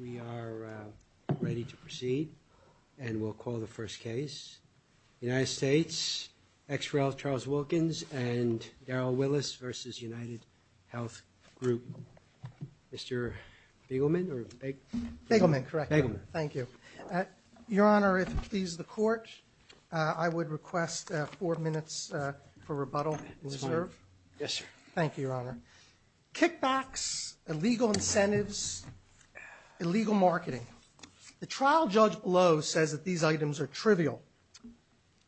We are ready to proceed, and we'll call the first case. United Statesexrel Charles Wilkins and Daryl Willis versus United Health Group. Mr. Bigelman, or Bigelman, correct? Bigelman. Thank you. Your Honor, if it pleases the Court, I would request four minutes for rebuttal. Yes, sir. Thank you, Your Honor. Kickbacks, illegal incentives, illegal marketing. The trial judge below says that these items are trivial.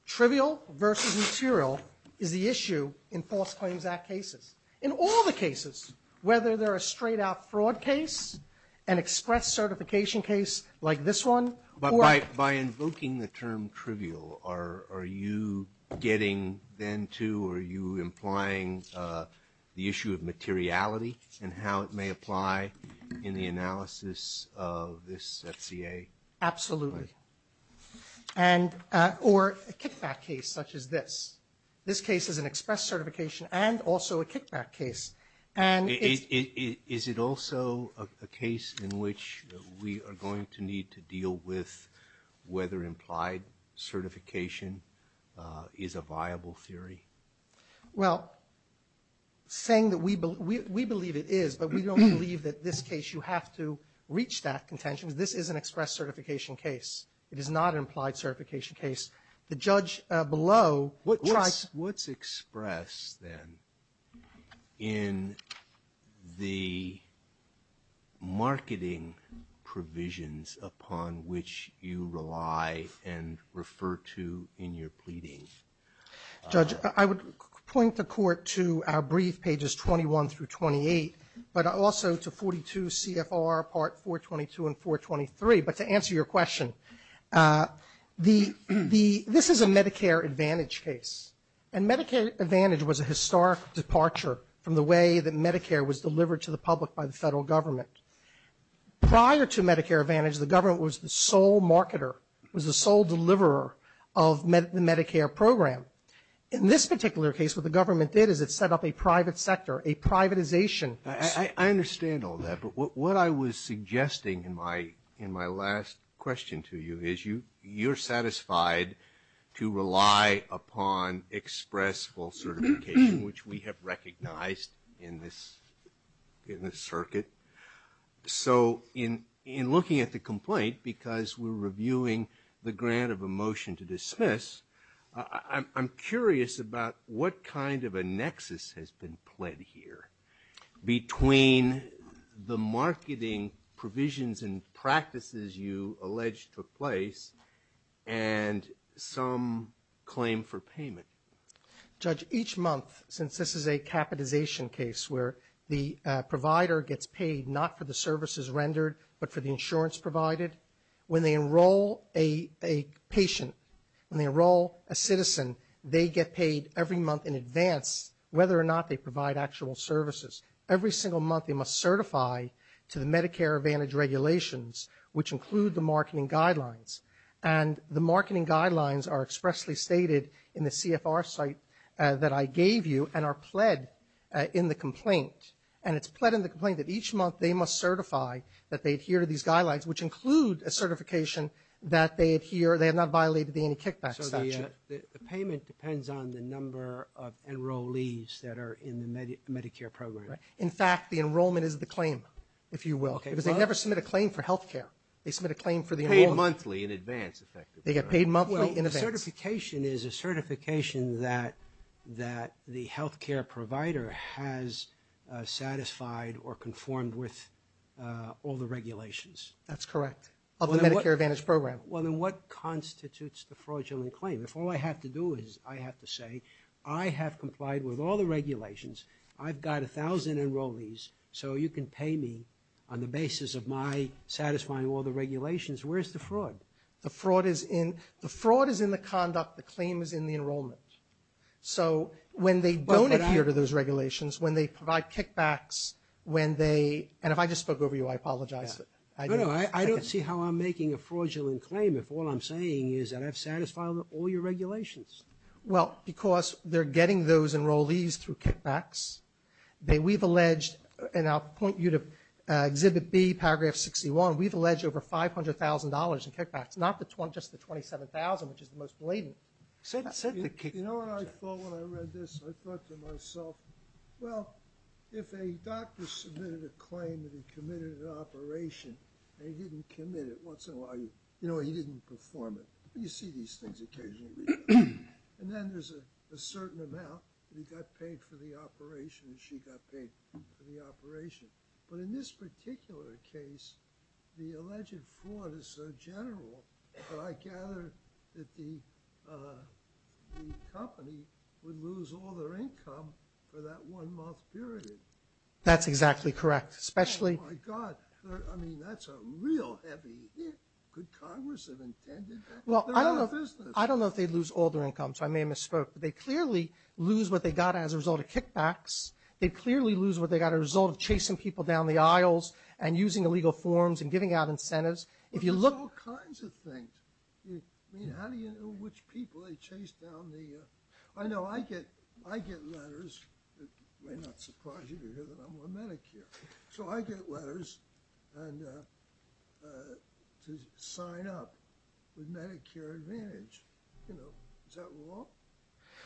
Trivial versus material is the issue in false claims act cases. In all the cases, whether they're a straight-out fraud case, an express certification case like this one, or... But by invoking the term trivial, are you getting then to, are you implying the issue of materiality and how it may apply in the analysis of this FCA? Absolutely. Or a kickback case such as this. This case is an express certification and also a kickback case. Is it also a case in which we are going to need to deal with whether implied certification is a viable theory? Well, saying that we believe it is, but we don't believe that this case you have to reach that contention. This is an express certification case. It is not an implied certification case. The judge below tries... What's expressed then in the marketing provisions upon which you rely and refer to in your pleading? Judge, I would point the court to our brief pages 21 through 28, but also to 42 CFR part 422 and 423. But to answer your question, this is a Medicare Advantage case. And Medicare Advantage was a historic departure from the way that Medicare was delivered to the public by the federal government. Prior to Medicare Advantage, the government was the sole marketer, was the sole deliverer of the Medicare program. In this particular case, what the government did is it set up a private sector, a privatization. I understand all that, but what I was suggesting in my last question to you is you're satisfied to rely upon express full certification, which we have recognized in this circuit. So in looking at the complaint, because we're reviewing the grant of a motion to dismiss, I'm curious about what kind of a nexus has been pled here between the marketing provisions and practices you allege took place and some claim for payment. Judge, each month, since this is a capitization case where the provider gets paid not for the services rendered, but for the insurance provided, when they enroll a patient, when they enroll a citizen, they get paid every month in advance whether or not they provide actual services. Every single month they must certify to the Medicare Advantage regulations, which include the marketing guidelines. And the marketing guidelines are expressly stated in the CFR site that I gave you and are pled in the complaint. And it's pled in the complaint that each month they must certify that they adhere to these guidelines, which include a certification that they adhere, they have not violated the anti-kickback statute. So the payment depends on the number of enrollees that are in the Medicare program. Right. In fact, the enrollment is the claim, if you will, because they never submit a claim for health care. They submit a claim for the enrollment. Paid monthly in advance, effectively. They get paid monthly in advance. Well, the certification is a certification that the health care provider has satisfied or conformed with all the regulations. That's correct, of the Medicare Advantage program. Well, then what constitutes the fraudulent claim? If all I have to do is I have to say I have complied with all the regulations, I've got 1,000 enrollees, so you can pay me on the basis of my satisfying all the regulations, where's the fraud? The fraud is in the conduct, the claim is in the enrollment. So when they don't adhere to those regulations, when they provide kickbacks, when they, and if I just spoke over you, I apologize. No, no, I don't see how I'm making a fraudulent claim if all I'm saying is that I've satisfied all your regulations. Well, because they're getting those enrollees through kickbacks. We've alleged, and I'll point you to Exhibit B, Paragraph 61, we've alleged over $500,000 in kickbacks, not just the $27,000, which is the most blatant. You know what I thought when I read this? I thought to myself, well, if a doctor submitted a claim that he committed an operation and he didn't commit it, what's the value? You know, he didn't perform it. You see these things occasionally. And then there's a certain amount that he got paid for the operation and she got paid for the operation. But in this particular case, the alleged fraud is so general that I gather that the company would lose all their income for that one month period. That's exactly correct. Oh, my God. I mean, that's a real heavy hit. Could Congress have intended that? They're out of business. Well, I don't know if they'd lose all their income, so I may have misspoke, but they'd clearly lose what they got as a result of kickbacks. They'd clearly lose what they got as a result of chasing people down the aisles and using illegal forms and giving out incentives. But there's all kinds of things. I mean, how do you know which people they chased down the – I know I get letters. It may not surprise you to hear that I'm on Medicare. So I get letters to sign up with Medicare Advantage. You know, is that wrong?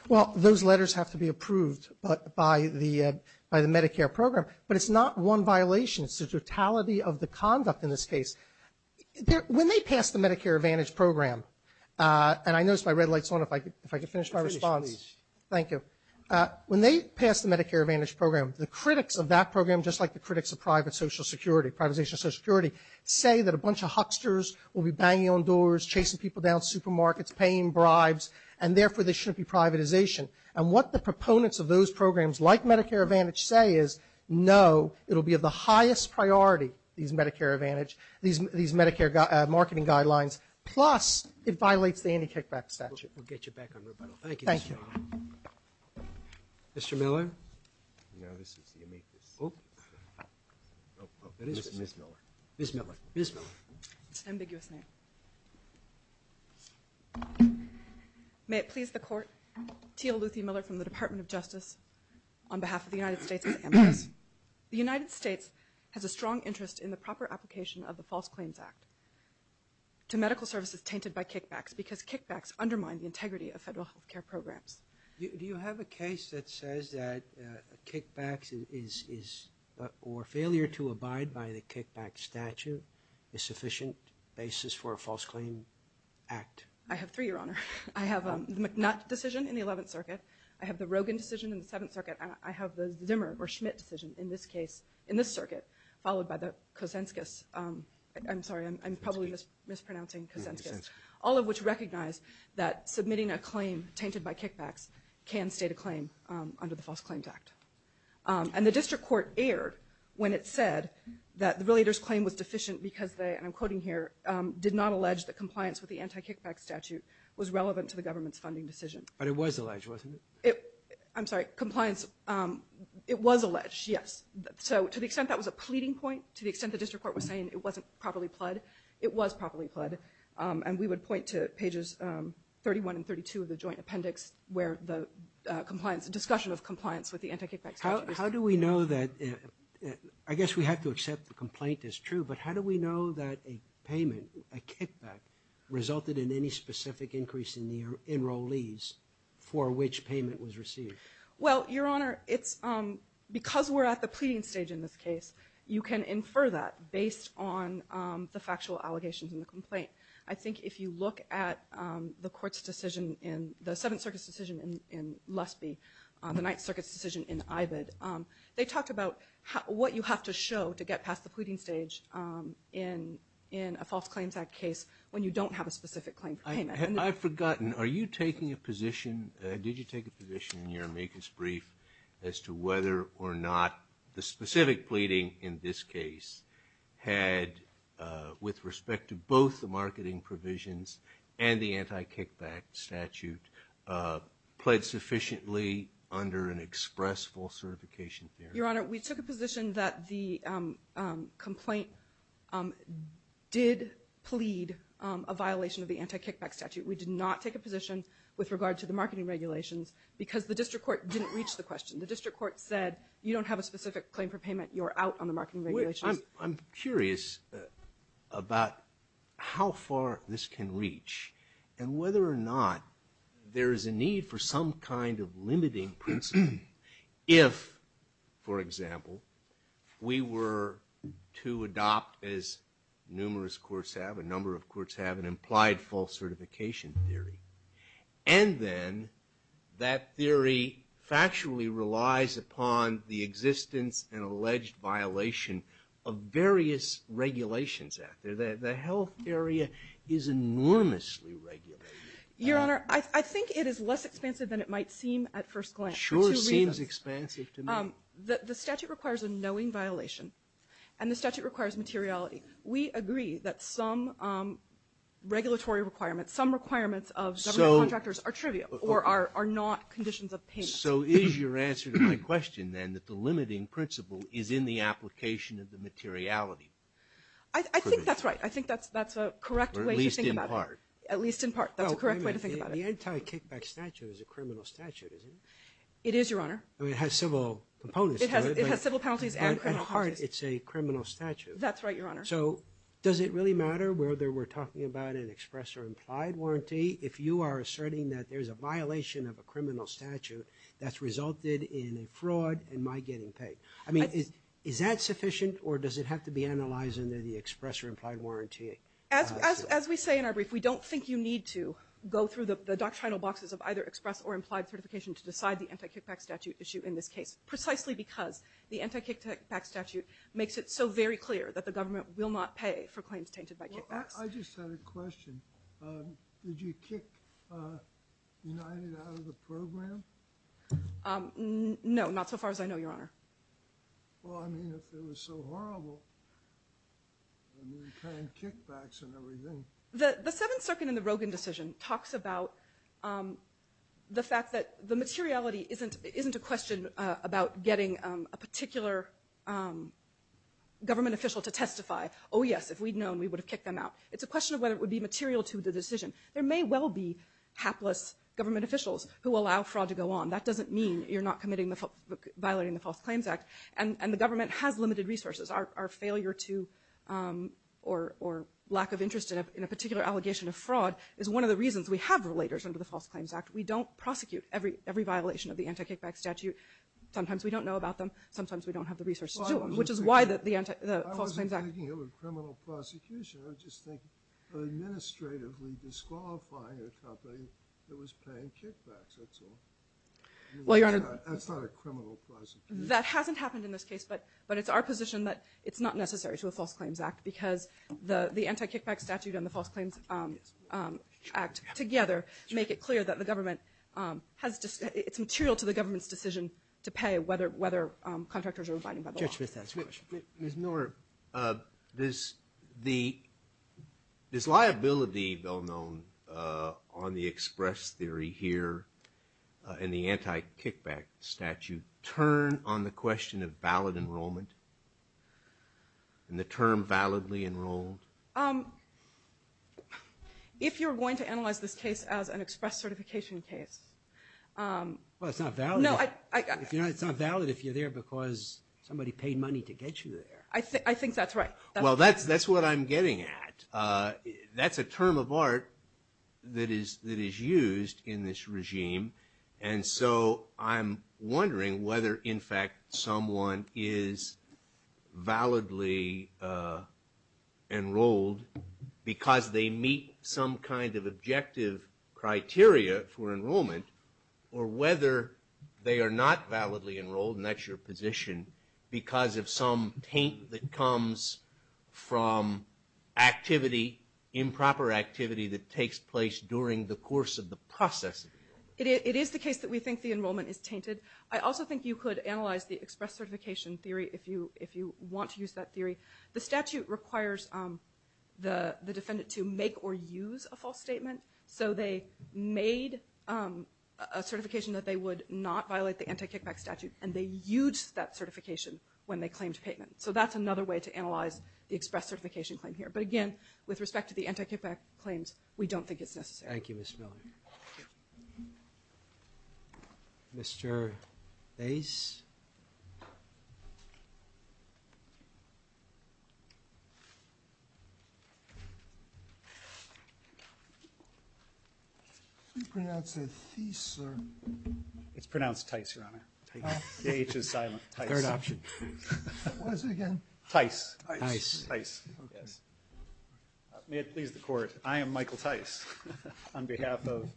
Well, those letters have to be approved by the Medicare program, but it's not one violation. It's the totality of the conduct in this case. When they pass the Medicare Advantage program, and I notice my red light's on if I can finish my response. Please. Thank you. When they pass the Medicare Advantage program, the critics of that program, just like the critics of private social security, privatization of social security, say that a bunch of hucksters will be banging on doors, chasing people down supermarkets, paying bribes, and therefore there shouldn't be privatization. And what the proponents of those programs like Medicare Advantage say is, no, it will be of the highest priority, these Medicare Advantage – these Medicare marketing guidelines, plus it violates the anti-kickback statute. We'll get you back on rebuttal. Thank you, Mr. Miller. Mr. Miller? No, this is the amicus. Ms. Miller. Ms. Miller. Ms. Miller. It's an ambiguous name. May it please the Court, Tia Luthi Miller from the Department of Justice, on behalf of the United States Amicus. The United States has a strong interest in the proper application of the False Claims Act to medical services tainted by kickbacks, because kickbacks undermine the integrity of federal health care programs. Do you have a case that says that kickbacks or failure to abide by the kickback statute is sufficient basis for a False Claim Act? I have three, Your Honor. I have the McNutt decision in the 11th Circuit. I have the Rogin decision in the 7th Circuit. I have the Zimmer or Schmidt decision in this case, in this circuit, followed by the Kosenskis. I'm sorry, I'm probably mispronouncing Kosenskis. All of which recognize that submitting a claim tainted by kickbacks can state a claim under the False Claims Act. And the district court erred when it said that the relator's claim was deficient because they, and I'm quoting here, did not allege that compliance with the anti-kickback statute was relevant to the government's funding decision. But it was alleged, wasn't it? I'm sorry, compliance, it was alleged, yes. So to the extent that was a pleading point, to the extent the district court was saying it wasn't properly pled, it was properly pled. And we would point to pages 31 and 32 of the joint appendix where the compliance, discussion of compliance with the anti-kickback statute. How do we know that, I guess we have to accept the complaint is true, but how do we know that a payment, a kickback, resulted in any specific increase in the enrollees for which payment was received? Well, Your Honor, because we're at the pleading stage in this case, you can infer that based on the factual allegations in the complaint. I think if you look at the court's decision, the Seventh Circuit's decision in Lusby, the Ninth Circuit's decision in Ived, they talked about what you have to show to get past the pleading stage in a False Claims Act case when you don't have a specific claim for payment. I've forgotten, are you taking a position, did you take a position in your amicus brief as to whether or not the specific pleading in this case had, with respect to both the marketing provisions and the anti-kickback statute, pled sufficiently under an express false certification theory? Your Honor, we took a position that the complaint did plead a violation of the anti-kickback statute. We did not take a position with regard to the marketing regulations because the district court didn't reach the question. The district court said you don't have a specific claim for payment, you're out on the marketing regulations. I'm curious about how far this can reach and whether or not there is a need for some kind of limiting principle if, for example, we were to adopt, as numerous courts have, a number of courts have, an implied false certification theory. And then that theory factually relies upon the existence and alleged violation of various regulations out there. The health area is enormously regulated. Your Honor, I think it is less expansive than it might seem at first glance. Sure seems expansive to me. The statute requires a knowing violation and the statute requires materiality. We agree that some regulatory requirements, some requirements of government contractors are trivial or are not conditions of payment. So is your answer to my question, then, that the limiting principle is in the application of the materiality? I think that's right. I think that's a correct way to think about it. At least in part. At least in part. That's a correct way to think about it. The anti-kickback statute is a criminal statute, isn't it? It is, Your Honor. It has civil components to it. It has civil penalties and criminal penalties. At heart, it's a criminal statute. That's right, Your Honor. So does it really matter whether we're talking about an express or implied warranty if you are asserting that there's a violation of a criminal statute that's resulted in a fraud and my getting paid? I mean, is that sufficient or does it have to be analyzed under the express or implied warranty? As we say in our brief, we don't think you need to go through the doctrinal boxes of either express or implied certification to decide the anti-kickback statute issue in this case, precisely because the anti-kickback statute makes it so very clear that the government will not pay for claims tainted by kickbacks. I just had a question. Did you kick United out of the program? No, not so far as I know, Your Honor. Well, I mean, if it was so horrible, I mean, trying kickbacks and everything. The Seventh Circuit in the Rogin decision talks about the fact that the materiality isn't a question about getting a particular government official to testify. Oh, yes, if we'd known, we would have kicked them out. It's a question of whether it would be material to the decision. There may well be hapless government officials who allow fraud to go on. That doesn't mean you're not violating the False Claims Act, and the government has limited resources. Our failure to or lack of interest in a particular allegation of fraud is one of the reasons we have relators under the False Claims Act. We don't prosecute every violation of the Anti-Kickback Statute. Sometimes we don't know about them. Sometimes we don't have the resources to do them, which is why the False Claims Act... I wasn't thinking of a criminal prosecution. I was just thinking of administratively disqualifying a company that was paying kickbacks, that's all. That's not a criminal prosecution. That hasn't happened in this case, but it's our position that it's not necessary to a False Claims Act because the Anti-Kickback Statute and the False Claims Act together make it clear that the government has... it's material to the government's decision to pay whether contractors are abiding by the law. Judge Smith has a question. Ms. Knorr, does the... does liability, though known on the express theory here in the Anti-Kickback Statute, turn on the question of valid enrollment and the term validly enrolled? If you're going to analyze this case as an express certification case... Well, it's not valid. No, I... It's not valid if you're there because somebody paid money to get you there. I think that's right. Well, that's what I'm getting at. That's a term of art that is used in this regime, and so I'm wondering whether, in fact, someone is validly enrolled because they meet some kind of objective criteria for enrollment, or whether they are not validly enrolled, and that's your position, because of some taint that comes from activity, improper activity that takes place during the course of the process. It is the case that we think the enrollment is tainted. I also think you could analyze the express certification theory if you want to use that theory. The statute requires the defendant to make or use a false statement, so they made a certification that they would not violate the Anti-Kickback Statute, and they used that certification when they claimed payment. So that's another way to analyze the express certification claim here. But again, with respect to the Anti-Kickback claims, we don't think it's necessary. Thank you, Ms. Miller. Thank you. Mr. Thijs? Did you pronounce it Thijs, sir? It's pronounced Thijs, Your Honor. Thijs. J-H is silent. Third option. What is it again? Thijs. Thijs. Thijs, yes. May it please the Court, I am Michael Thijs on behalf of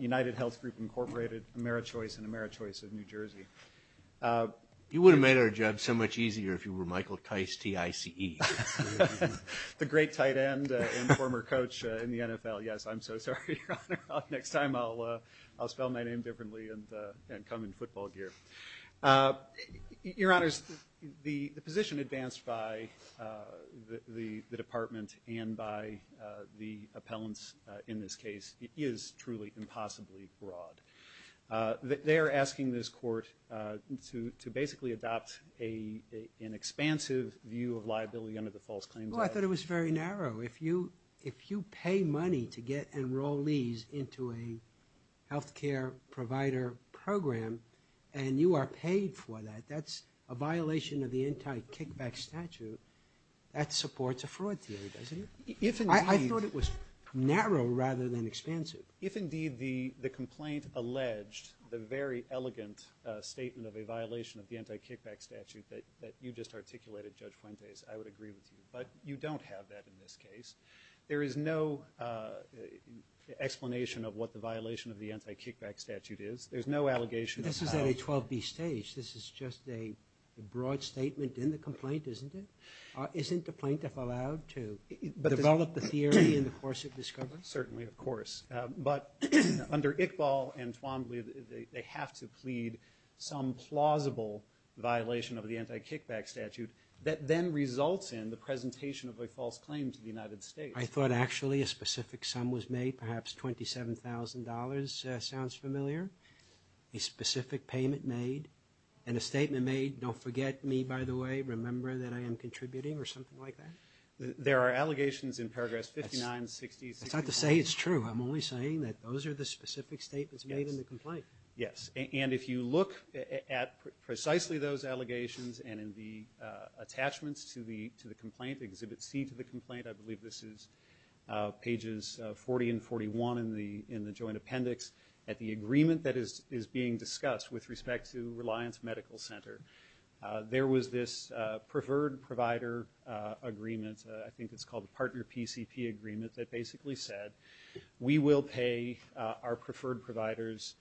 United Health Group Incorporated, AmeriChoice, and AmeriChoice of New Jersey. You would have made our job so much easier if you were Michael Thijs, T-I-C-E. The great tight end and former coach in the NFL. Yes, I'm so sorry, Your Honor. Next time I'll spell my name differently and come in football gear. Your Honors, the position advanced by the Department and by the appellants in this case is truly impossibly broad. They are asking this Court to basically adopt an expansive view of liability under the false claims act. Well, I thought it was very narrow. If you pay money to get enrollees into a health care provider program and you are paid for that, that's a violation of the anti-kickback statute. That supports a fraud theory, doesn't it? I thought it was narrow rather than expansive. If indeed the complaint alleged the very elegant statement of a violation of the anti-kickback statute that you just articulated, Judge Fuentes, I would agree with you. But you don't have that in this case. There is no explanation of what the violation of the anti-kickback statute is. There's no allegation of foul play. This is at a 12B stage. This is just a broad statement in the complaint, isn't it? Isn't the plaintiff allowed to develop the theory in the course of discovery? Certainly, of course. But under Iqbal and Twombly, they have to plead some plausible violation of the anti-kickback statute that then results in the presentation of a false claim to the United States. I thought actually a specific sum was made, perhaps $27,000. Sounds familiar? A specific payment made and a statement made, don't forget me, by the way, remember that I am contributing or something like that? There are allegations in paragraphs 59, 60, 61. That's not to say it's true. I'm only saying that those are the specific statements made in the complaint. Yes. And if you look at precisely those allegations and in the attachments to the complaint, Exhibit C to the complaint, I believe this is pages 40 and 41 in the joint appendix, at the agreement that is being discussed with respect to Reliance Medical Center. There was this preferred provider agreement, I think it's called a partner PCP agreement, that basically said, we will pay our preferred providers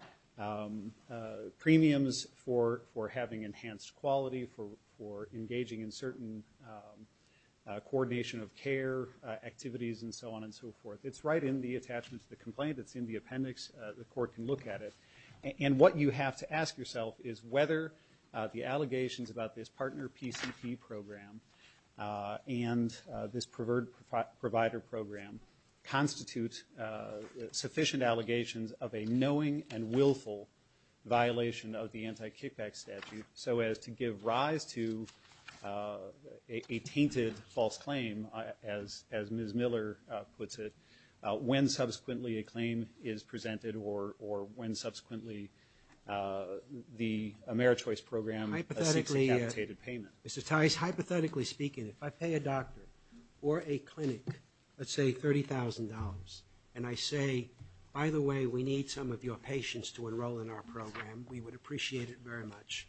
premiums for having enhanced quality, for engaging in certain coordination of care activities, and so on and so forth. It's right in the attachment to the complaint. It's in the appendix. The court can look at it. And what you have to ask yourself is whether the allegations about this partner PCP program and this preferred provider program constitute sufficient allegations of a knowing and willful violation of the anti-kickback statute, so as to give rise to a tainted false claim, as Ms. Miller puts it, when subsequently a claim is presented or when subsequently the AmeriChoice program seeks a capitated payment. Mr. Tice, hypothetically speaking, if I pay a doctor or a clinic, let's say $30,000, and I say, by the way, we need some of your patients to enroll in our program, we would appreciate it very much,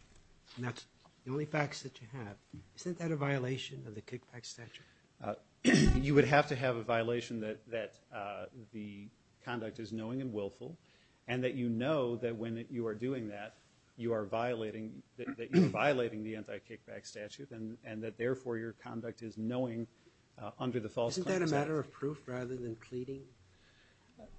and that's the only facts that you have, isn't that a violation of the kickback statute? You would have to have a violation that the conduct is knowing and willful and that you know that when you are doing that, you are violating the anti-kickback statute and that therefore your conduct is knowing under the false claims act. Isn't that a matter of proof rather than pleading?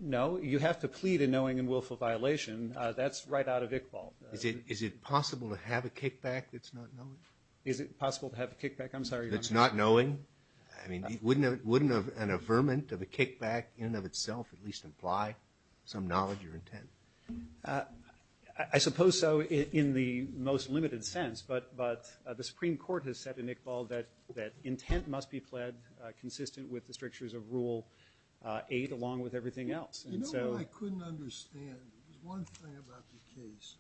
No. You have to plead a knowing and willful violation. That's right out of Iqbal. Is it possible to have a kickback that's not knowing? Is it possible to have a kickback? I'm sorry, Your Honor. That's not knowing? I mean, wouldn't an affirmant of a kickback in and of itself at least imply some knowledge or intent? I suppose so in the most limited sense, but the Supreme Court has said in Iqbal that intent must be pled consistent with the strictures of Rule 8 along with everything else. You know what I couldn't understand? There's one thing about the case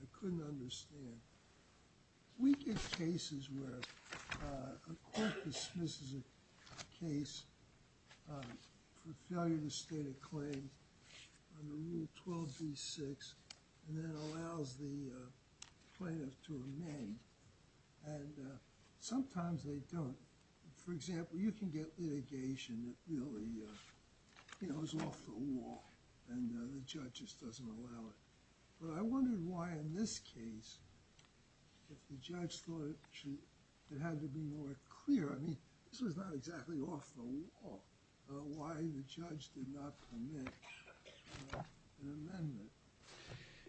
I couldn't understand. We get cases where a court dismisses a case for failure to state a claim under Rule 12b-6 and then allows the plaintiff to remain and sometimes they don't. For example, you can get litigation that really, you know, is off the wall and the judge just doesn't allow it. But I wondered why in this case if the judge thought it had to be more clear. I mean, this was not exactly off the wall why the judge did not permit an amendment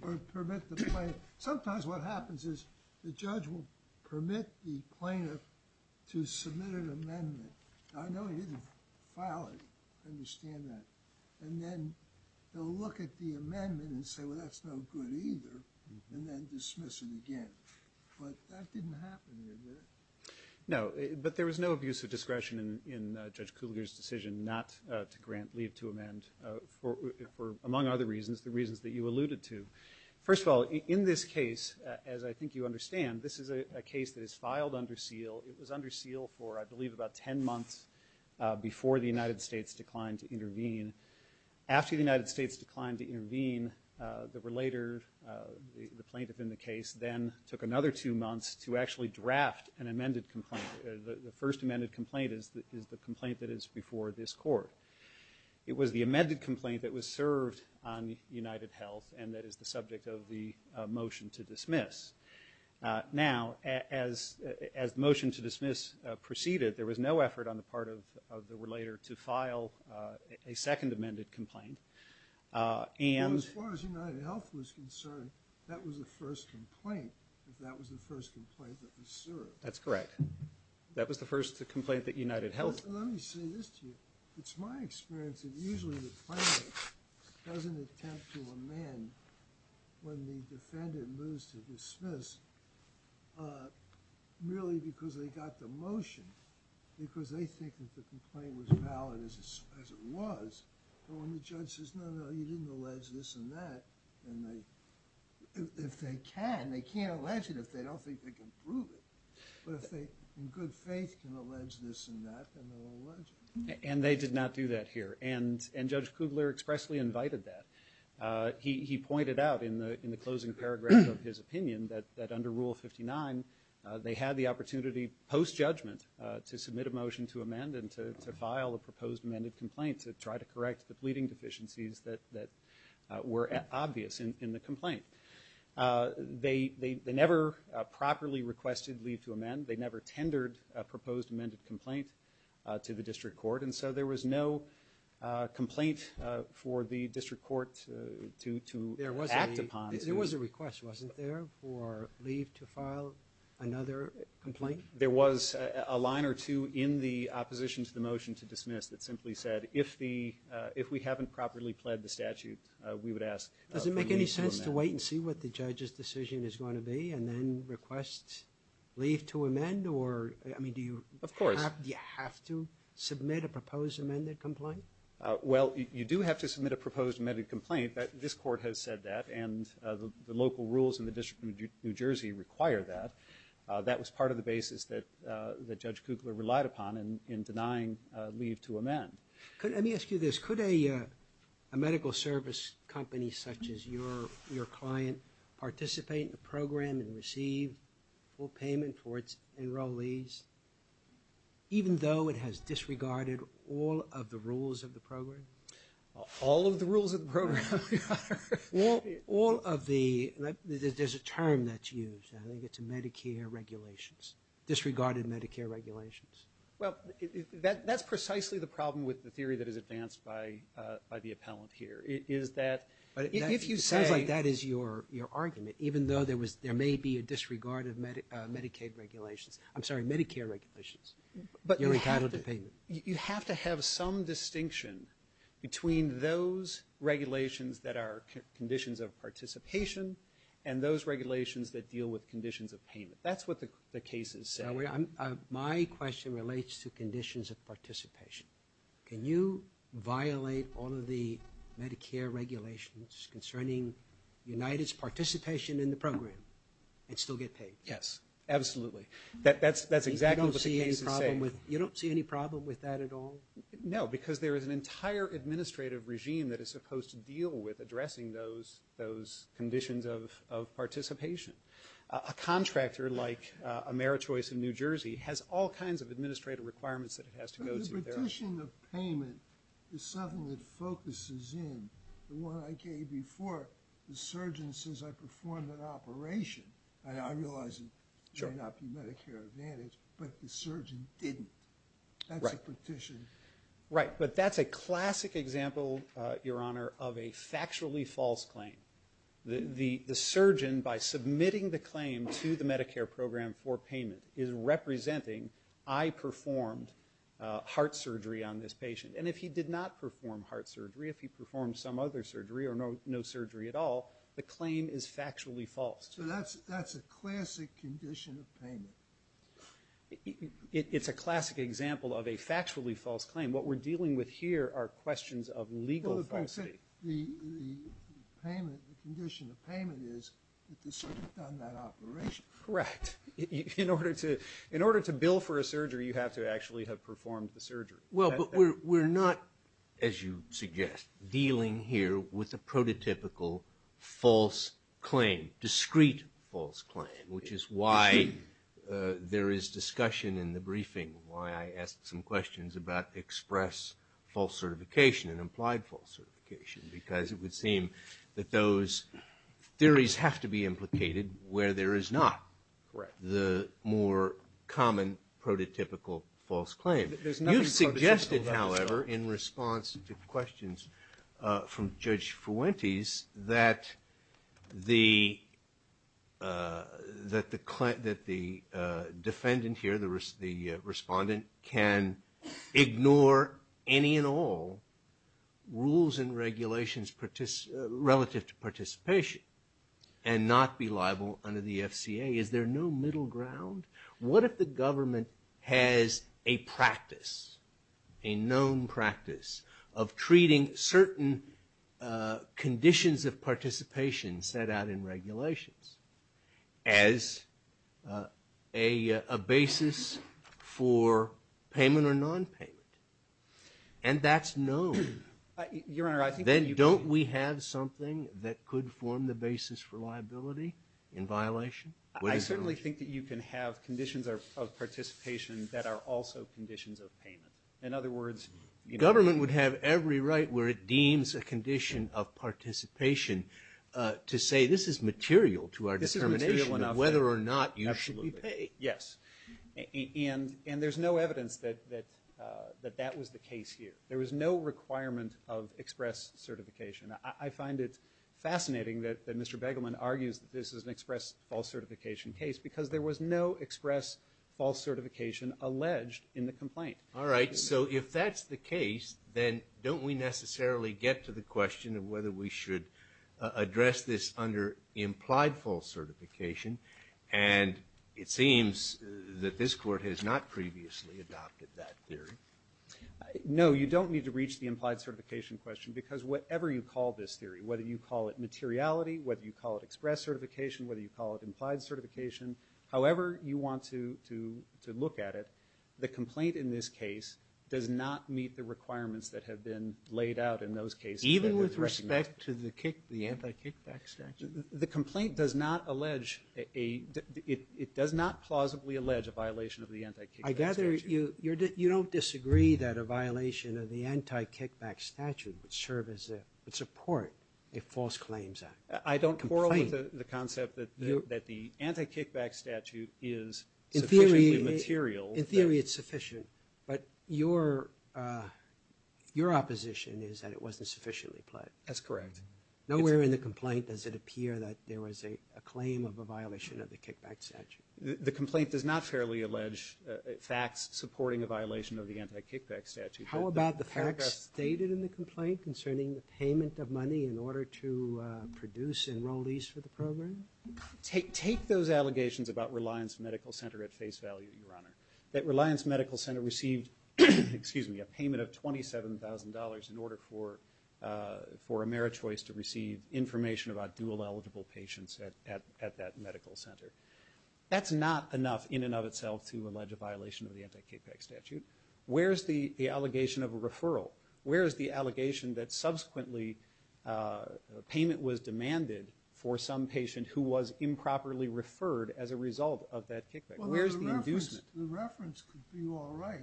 or permit the plaintiff. Sometimes what happens is the judge will permit the plaintiff to submit an amendment. I know he didn't file it. I understand that. And then they'll look at the amendment and say, well, that's no good either and then dismiss it again. But that didn't happen here, did it? No, but there was no abuse of discretion in Judge Kugler's decision not to grant leave to amend for, among other reasons, the reasons that you alluded to. First of all, in this case, as I think you understand, this is a case that is filed under seal. It was under seal for, I believe, about 10 months before the United States declined to intervene. After the United States declined to intervene, the relator, the plaintiff in the case, then took another two months to actually draft an amended complaint. The first amended complaint is the complaint that is before this court. It was the amended complaint that was served on UnitedHealth and that is the subject of the motion to dismiss. Now, as the motion to dismiss proceeded, there was no effort on the part of the relator to file a second amended complaint and... As far as UnitedHealth was concerned, that was the first complaint, if that was the first complaint that was served. That's correct. That was the first complaint that UnitedHealth... Let me say this to you. It's my experience that usually the plaintiff doesn't attempt to amend when the defendant moves to dismiss merely because they got the motion, because they think that the complaint was valid as it was, but when the judge says, no, no, you didn't allege this and that, then they... If they can, they can't allege it if they don't think they can prove it. But if they, in good faith, can allege this and that, then they'll allege it. And they did not do that here. And Judge Kugler expressly invited that. He pointed out in the closing paragraph of his opinion that under Rule 59, they had the opportunity, post-judgment, to submit a motion to amend and to file a proposed amended complaint to try to correct the pleading deficiencies that were obvious in the complaint. They never properly requested leave to amend. They never tendered a proposed amended complaint to the district court, and so there was no complaint for the district court to act upon. There was a request, wasn't there, for leave to file another complaint? There was a line or two in the opposition to the motion to dismiss that simply said, if we haven't properly pled the statute, we would ask for leave to amend. Does it make any sense to wait and see what the judge's decision is going to be and then request leave to amend? Of course. Do you have to submit a proposed amended complaint? Well, you do have to submit a proposed amended complaint. This court has said that, and the local rules in the District of New Jersey require that. That was part of the basis that Judge Kugler relied upon in denying leave to amend. Let me ask you this. Could a medical service company such as your client participate in the program and receive full payment for its enrollees even though it has disregarded all of the rules of the program? All of the rules of the program. All of the... There's a term that's used. I think it's Medicare regulations. Disregarded Medicare regulations. Well, that's precisely the problem with the theory that is advanced by the appellant here, is that... It sounds like that is your argument, even though there may be a disregard of Medicaid regulations. I'm sorry, Medicare regulations. You're entitled to payment. You have to have some distinction between those regulations that are conditions of participation and those regulations that deal with conditions of payment. That's what the case is saying. My question relates to conditions of participation. Can you violate all of the Medicare regulations concerning United's participation in the program and still get paid? Yes, absolutely. That's exactly what the case is saying. You don't see any problem with that at all? No, because there is an entire administrative regime that is supposed to deal with those conditions of participation. A contractor like AmeriChoice in New Jersey has all kinds of administrative requirements that it has to go to. The petition of payment is something that focuses in... The one I gave before, the surgeon says I performed an operation. I realize it may not be Medicare Advantage, but the surgeon didn't. That's a petition. Right, but that's a classic example, Your Honour, of a factually false claim. The surgeon, by submitting the claim to the Medicare program for payment, is representing I performed heart surgery on this patient. And if he did not perform heart surgery, if he performed some other surgery or no surgery at all, the claim is factually false. So that's a classic condition of payment. It's a classic example of a factually false claim. What we're dealing with here are questions of legal falsity. The condition of payment is that the surgeon done that operation. Correct. In order to bill for a surgery, you have to actually have performed the surgery. Well, but we're not, as you suggest, dealing here with a prototypical false claim, discrete false claim, which is why there is discussion in the briefing, why I asked some questions about express false certification and implied false certification, because it would seem that those theories have to be implicated where there is not the more common prototypical false claim. You've suggested, however, in response to questions from Judge Fuentes, that the defendant here, the respondent, can ignore any and all rules and regulations relative to participation and not be liable under the FCA. Is there no middle ground? What if the government has a practice, a known practice, of treating certain conditions of participation set out in regulations as a basis for payment or nonpayment? And that's known. Your Honor, I think that you can... Then don't we have something that could form the basis for liability in violation? I certainly think that you can have conditions of participation that are also conditions of payment. In other words... Government would have every right where it deems a condition of participation to say this is material to our determination of whether or not you should be paid. Yes. And there's no evidence that that was the case here. There was no requirement of express certification. I find it fascinating that Mr. Begelman argues that this is an express false certification case because there was no express false certification alleged in the complaint. All right. So if that's the case, then don't we necessarily get to the question of whether we should address this under implied false certification? And it seems that this Court has not previously adopted that theory. No, you don't need to reach the implied certification question because whatever you call this theory, whether you call it materiality, whether you call it express certification, whether you call it implied certification, however you want to look at it, the complaint in this case does not meet the requirements that have been laid out in those cases. Even with respect to the anti-kickback statute? The complaint does not allege a... It does not plausibly allege a violation of the anti-kickback statute. I gather you don't disagree that a violation of the anti-kickback statute would support a false claims act. I don't quarrel with the concept that the anti-kickback statute is sufficiently material. In theory it's sufficient, but your opposition is that it wasn't sufficiently plain. That's correct. Nowhere in the complaint does it appear that there was a claim of a violation of the kickback statute. The complaint does not fairly allege facts supporting a violation of the anti-kickback statute. How about the facts stated in the complaint concerning the payment of money in order to produce enrollees for the program? Take those allegations about Reliance Medical Center at face value, Your Honor. That Reliance Medical Center received a payment of $27,000 in order for AmeriChoice to receive information about dual eligible patients at that medical center. That's not enough in and of itself to allege a violation of the anti-kickback statute. Where is the allegation of a referral? Where is the allegation that subsequently payment was demanded for some patient who was improperly referred as a result of that kickback? Where is the inducement? The reference could be all right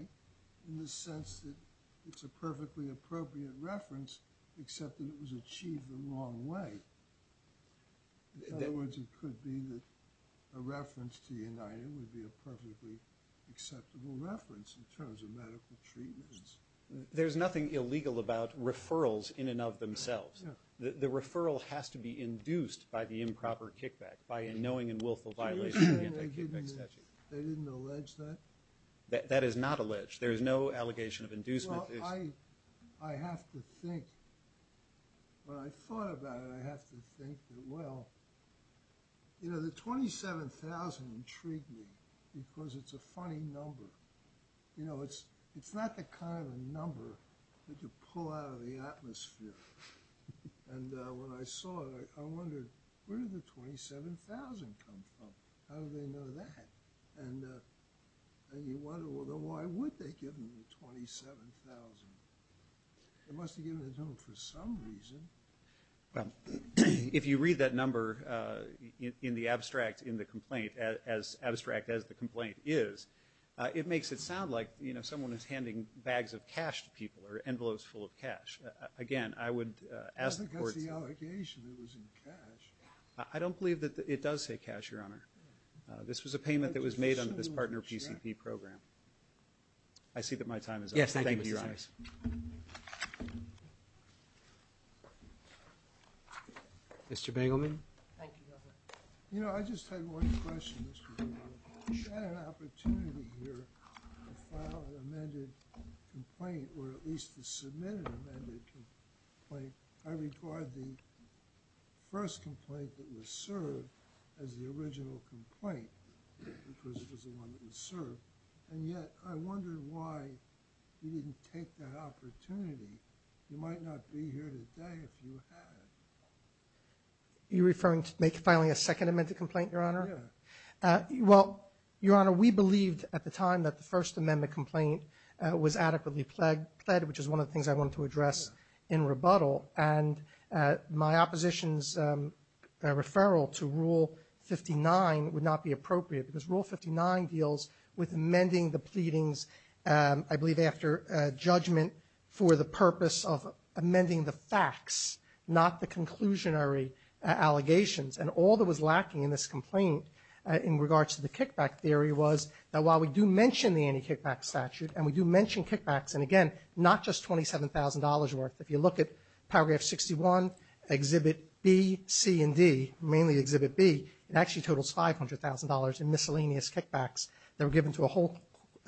in the sense that it's a perfectly appropriate reference except that it was achieved the wrong way. In other words, it could be that a reference to United would be a perfectly acceptable reference in terms of medical treatments. There's nothing illegal about referrals in and of themselves. The referral has to be induced by the improper kickback by a knowing and willful violation of the anti-kickback statute. They didn't allege that? That is not alleged. There is no allegation of inducement. Well, I have to think. When I thought about it, I have to think that, well... You know, the $27,000 intrigued me because it's a funny number. You know, it's not the kind of number that you pull out of the atmosphere. And when I saw it, I wondered, where did the $27,000 come from? How did they know that? And you wonder, well, then why would they give them the $27,000? They must have given it to them for some reason. Well, if you read that number in the abstract in the complaint, as abstract as the complaint is, it makes it sound like someone is handing bags of cash to people or envelopes full of cash. Again, I would ask the court to... I think that's the allegation, it was in cash. I don't believe that it does say cash, Your Honor. This was a payment that was made under this partner PCP program. I see that my time is up. Thank you, Your Honor. Yes, thank you, Mr. Simons. Mr. Bingleman? Thank you, Governor. You know, I just had one question, Mr. Bingleman. You had an opportunity here to file an amended complaint or at least to submit an amended complaint. I regard the first complaint that was served as the original complaint because it was the one that was served, and yet I wondered why you didn't take that opportunity. You might not be here today if you had. You're referring to filing a second amended complaint, Your Honor? Yes. Well, Your Honor, we believed at the time that the first amendment complaint was adequately pled, which is one of the things I wanted to address in rebuttal, and my opposition's referral to Rule 59 would not be appropriate because Rule 59 deals with amending the pleadings, I believe, after judgment for the purpose of amending the facts, not the conclusionary allegations. And all that was lacking in this complaint in regards to the kickback theory was that while we do mention the anti-kickback statute and we do mention kickbacks, and again, not just $27,000 worth. If you look at Paragraph 61, Exhibit B, C, and D, mainly Exhibit B, it actually totals $500,000 in miscellaneous kickbacks that were given to a whole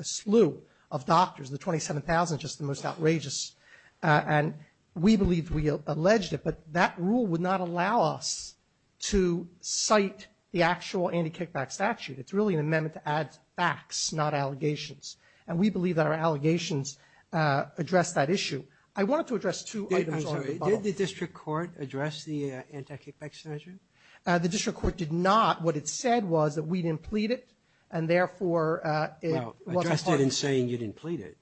slew of doctors. The $27,000 is just the most outrageous. And we believe we alleged it, but that rule would not allow us to cite the actual anti-kickback statute. It's really an amendment to add facts, not allegations. And we believe that our allegations address that issue. I wanted to address two items on rebuttal. I'm sorry. Did the district court address the anti-kickback statute? The district court did not. What it said was that we didn't plead it, and therefore it wasn't part of it. Well, address it in saying you didn't plead it.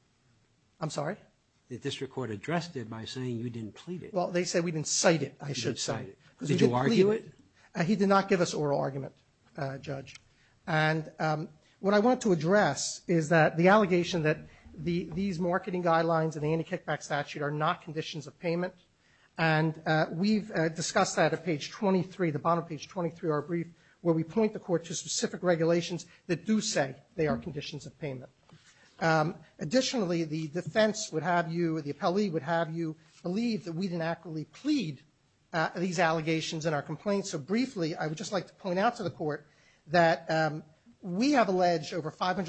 I'm sorry? The district court addressed it by saying you didn't plead it. Well, they said we didn't cite it, I should say. Did you argue it? He did not give us oral argument, Judge. And what I wanted to address is that the allegation that these marketing guidelines and the anti-kickback statute are not conditions of payment, and we've discussed that at page 23, the bottom of page 23 of our brief, where we point the court to specific regulations that do say they are conditions of payment. Additionally, the defense would have you, the appellee would have you believe that we didn't actually plead these allegations in our complaint. So briefly, I would just like to point out to the court that we have alleged over $500,000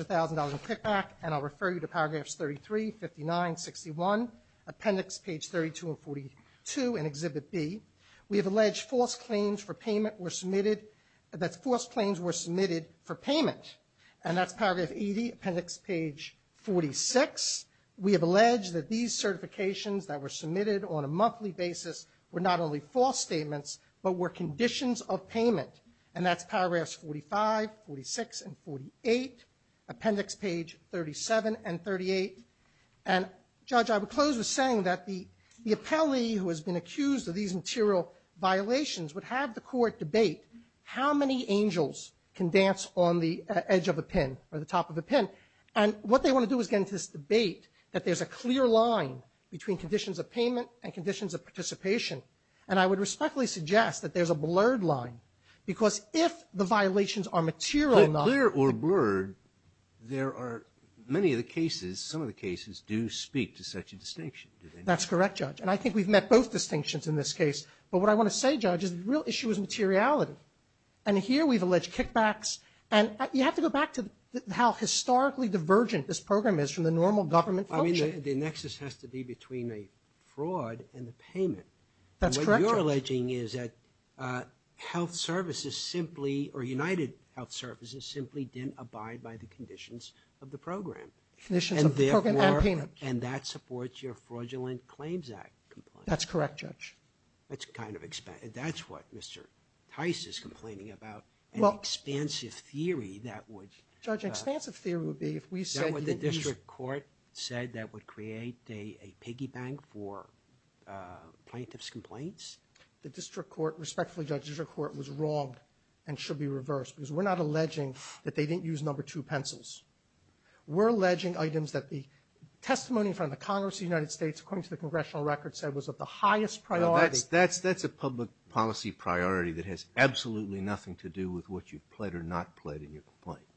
in kickback, and I'll refer you to paragraphs 33, 59, 61, appendix page 32 and 42 in Exhibit B. We have alleged false claims were submitted for payment, and that's paragraph 80, appendix page 46. We have alleged that these certifications that were submitted on a monthly basis were not only false statements but were conditions of payment, and that's paragraphs 45, 46, and 48, appendix page 37 and 38. And, Judge, I would close with saying that the appellee who has been accused of these material violations would have the court debate how many angels can dance on the edge of a pin or the top of a pin. And what they want to do is get into this debate that there's a clear line between conditions of payment and conditions of participation. And I would respectfully suggest that there's a blurred line, because if the violations are material not clear or blurred, there are many of the cases, some of the cases do speak to such a distinction. That's correct, Judge. And I think we've met both distinctions in this case. But what I want to say, Judge, is the real issue is materiality. And here we've alleged kickbacks. And you have to go back to how historically divergent this program is from the normal government function. I mean, the nexus has to be between a fraud and the payment. That's correct, Judge. And what you're alleging is that health services simply, or United Health Services simply didn't abide by the conditions of the program. Conditions of the program and payment. And that supports your Fraudulent Claims Act complaint. That's correct, Judge. That's kind of, that's what Mr. Tice is complaining about, an expansive theory that would Judge, an expansive theory would be if we said That would the district court said that would create a piggy bank for plaintiff's complaints? The district court, respectfully, Judge, the district court was wrong and should be reversed. Because we're not alleging that they didn't use number two pencils. We're alleging items that the testimony from the Congress of the United States, according to the congressional record, said was of the highest priority. That's a public policy priority that has absolutely nothing to do with what you've pled or not pled in your complaint.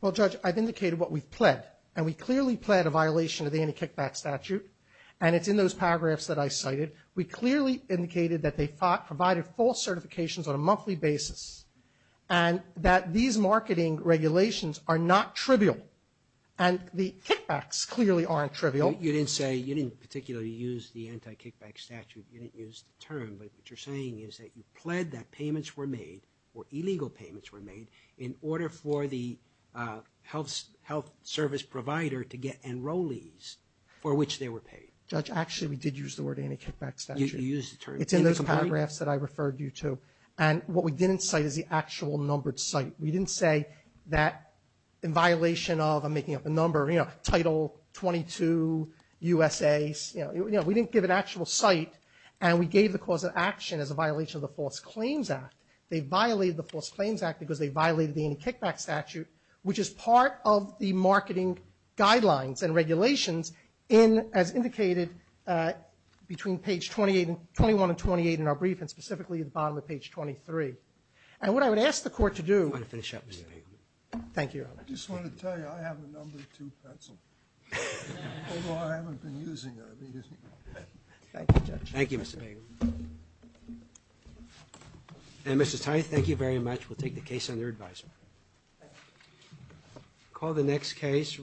Well, Judge, I've indicated what we've pled. And we clearly pled a violation of the anti-kickback statute. And it's in those paragraphs that I cited. We clearly indicated that they provided false certifications on a monthly basis. And that these marketing regulations are not trivial. And the kickbacks clearly aren't trivial. You didn't say, you didn't particularly use the anti-kickback statute. You didn't use the term. But what you're saying is that you pled that payments were made, or illegal payments were made, in order for the health service provider to get enrollees for which they were paid. Judge, actually, we did use the word anti-kickback statute. You used the term. It's in those paragraphs that I referred you to. And what we didn't cite is the actual numbered site. We didn't say that in violation of, I'm making up a number, you know, Title 22 USA. You know, we didn't give an actual site. And we gave the cause of action as a violation of the False Claims Act. They violated the False Claims Act because they violated the anti-kickback statute, which is part of the marketing guidelines and regulations in, as indicated, between page 21 and 28 in our brief, and specifically at the bottom of page 23. And what I would ask the Court to do to finish up. Thank you, Your Honor. I just want to tell you, I have a number two pencil. Although I haven't been using it. Thank you, Judge. Thank you, Mr. Pagan. And, Mr. Tine, thank you very much. We'll take the case under advisory. Thank you. We'll call the next case.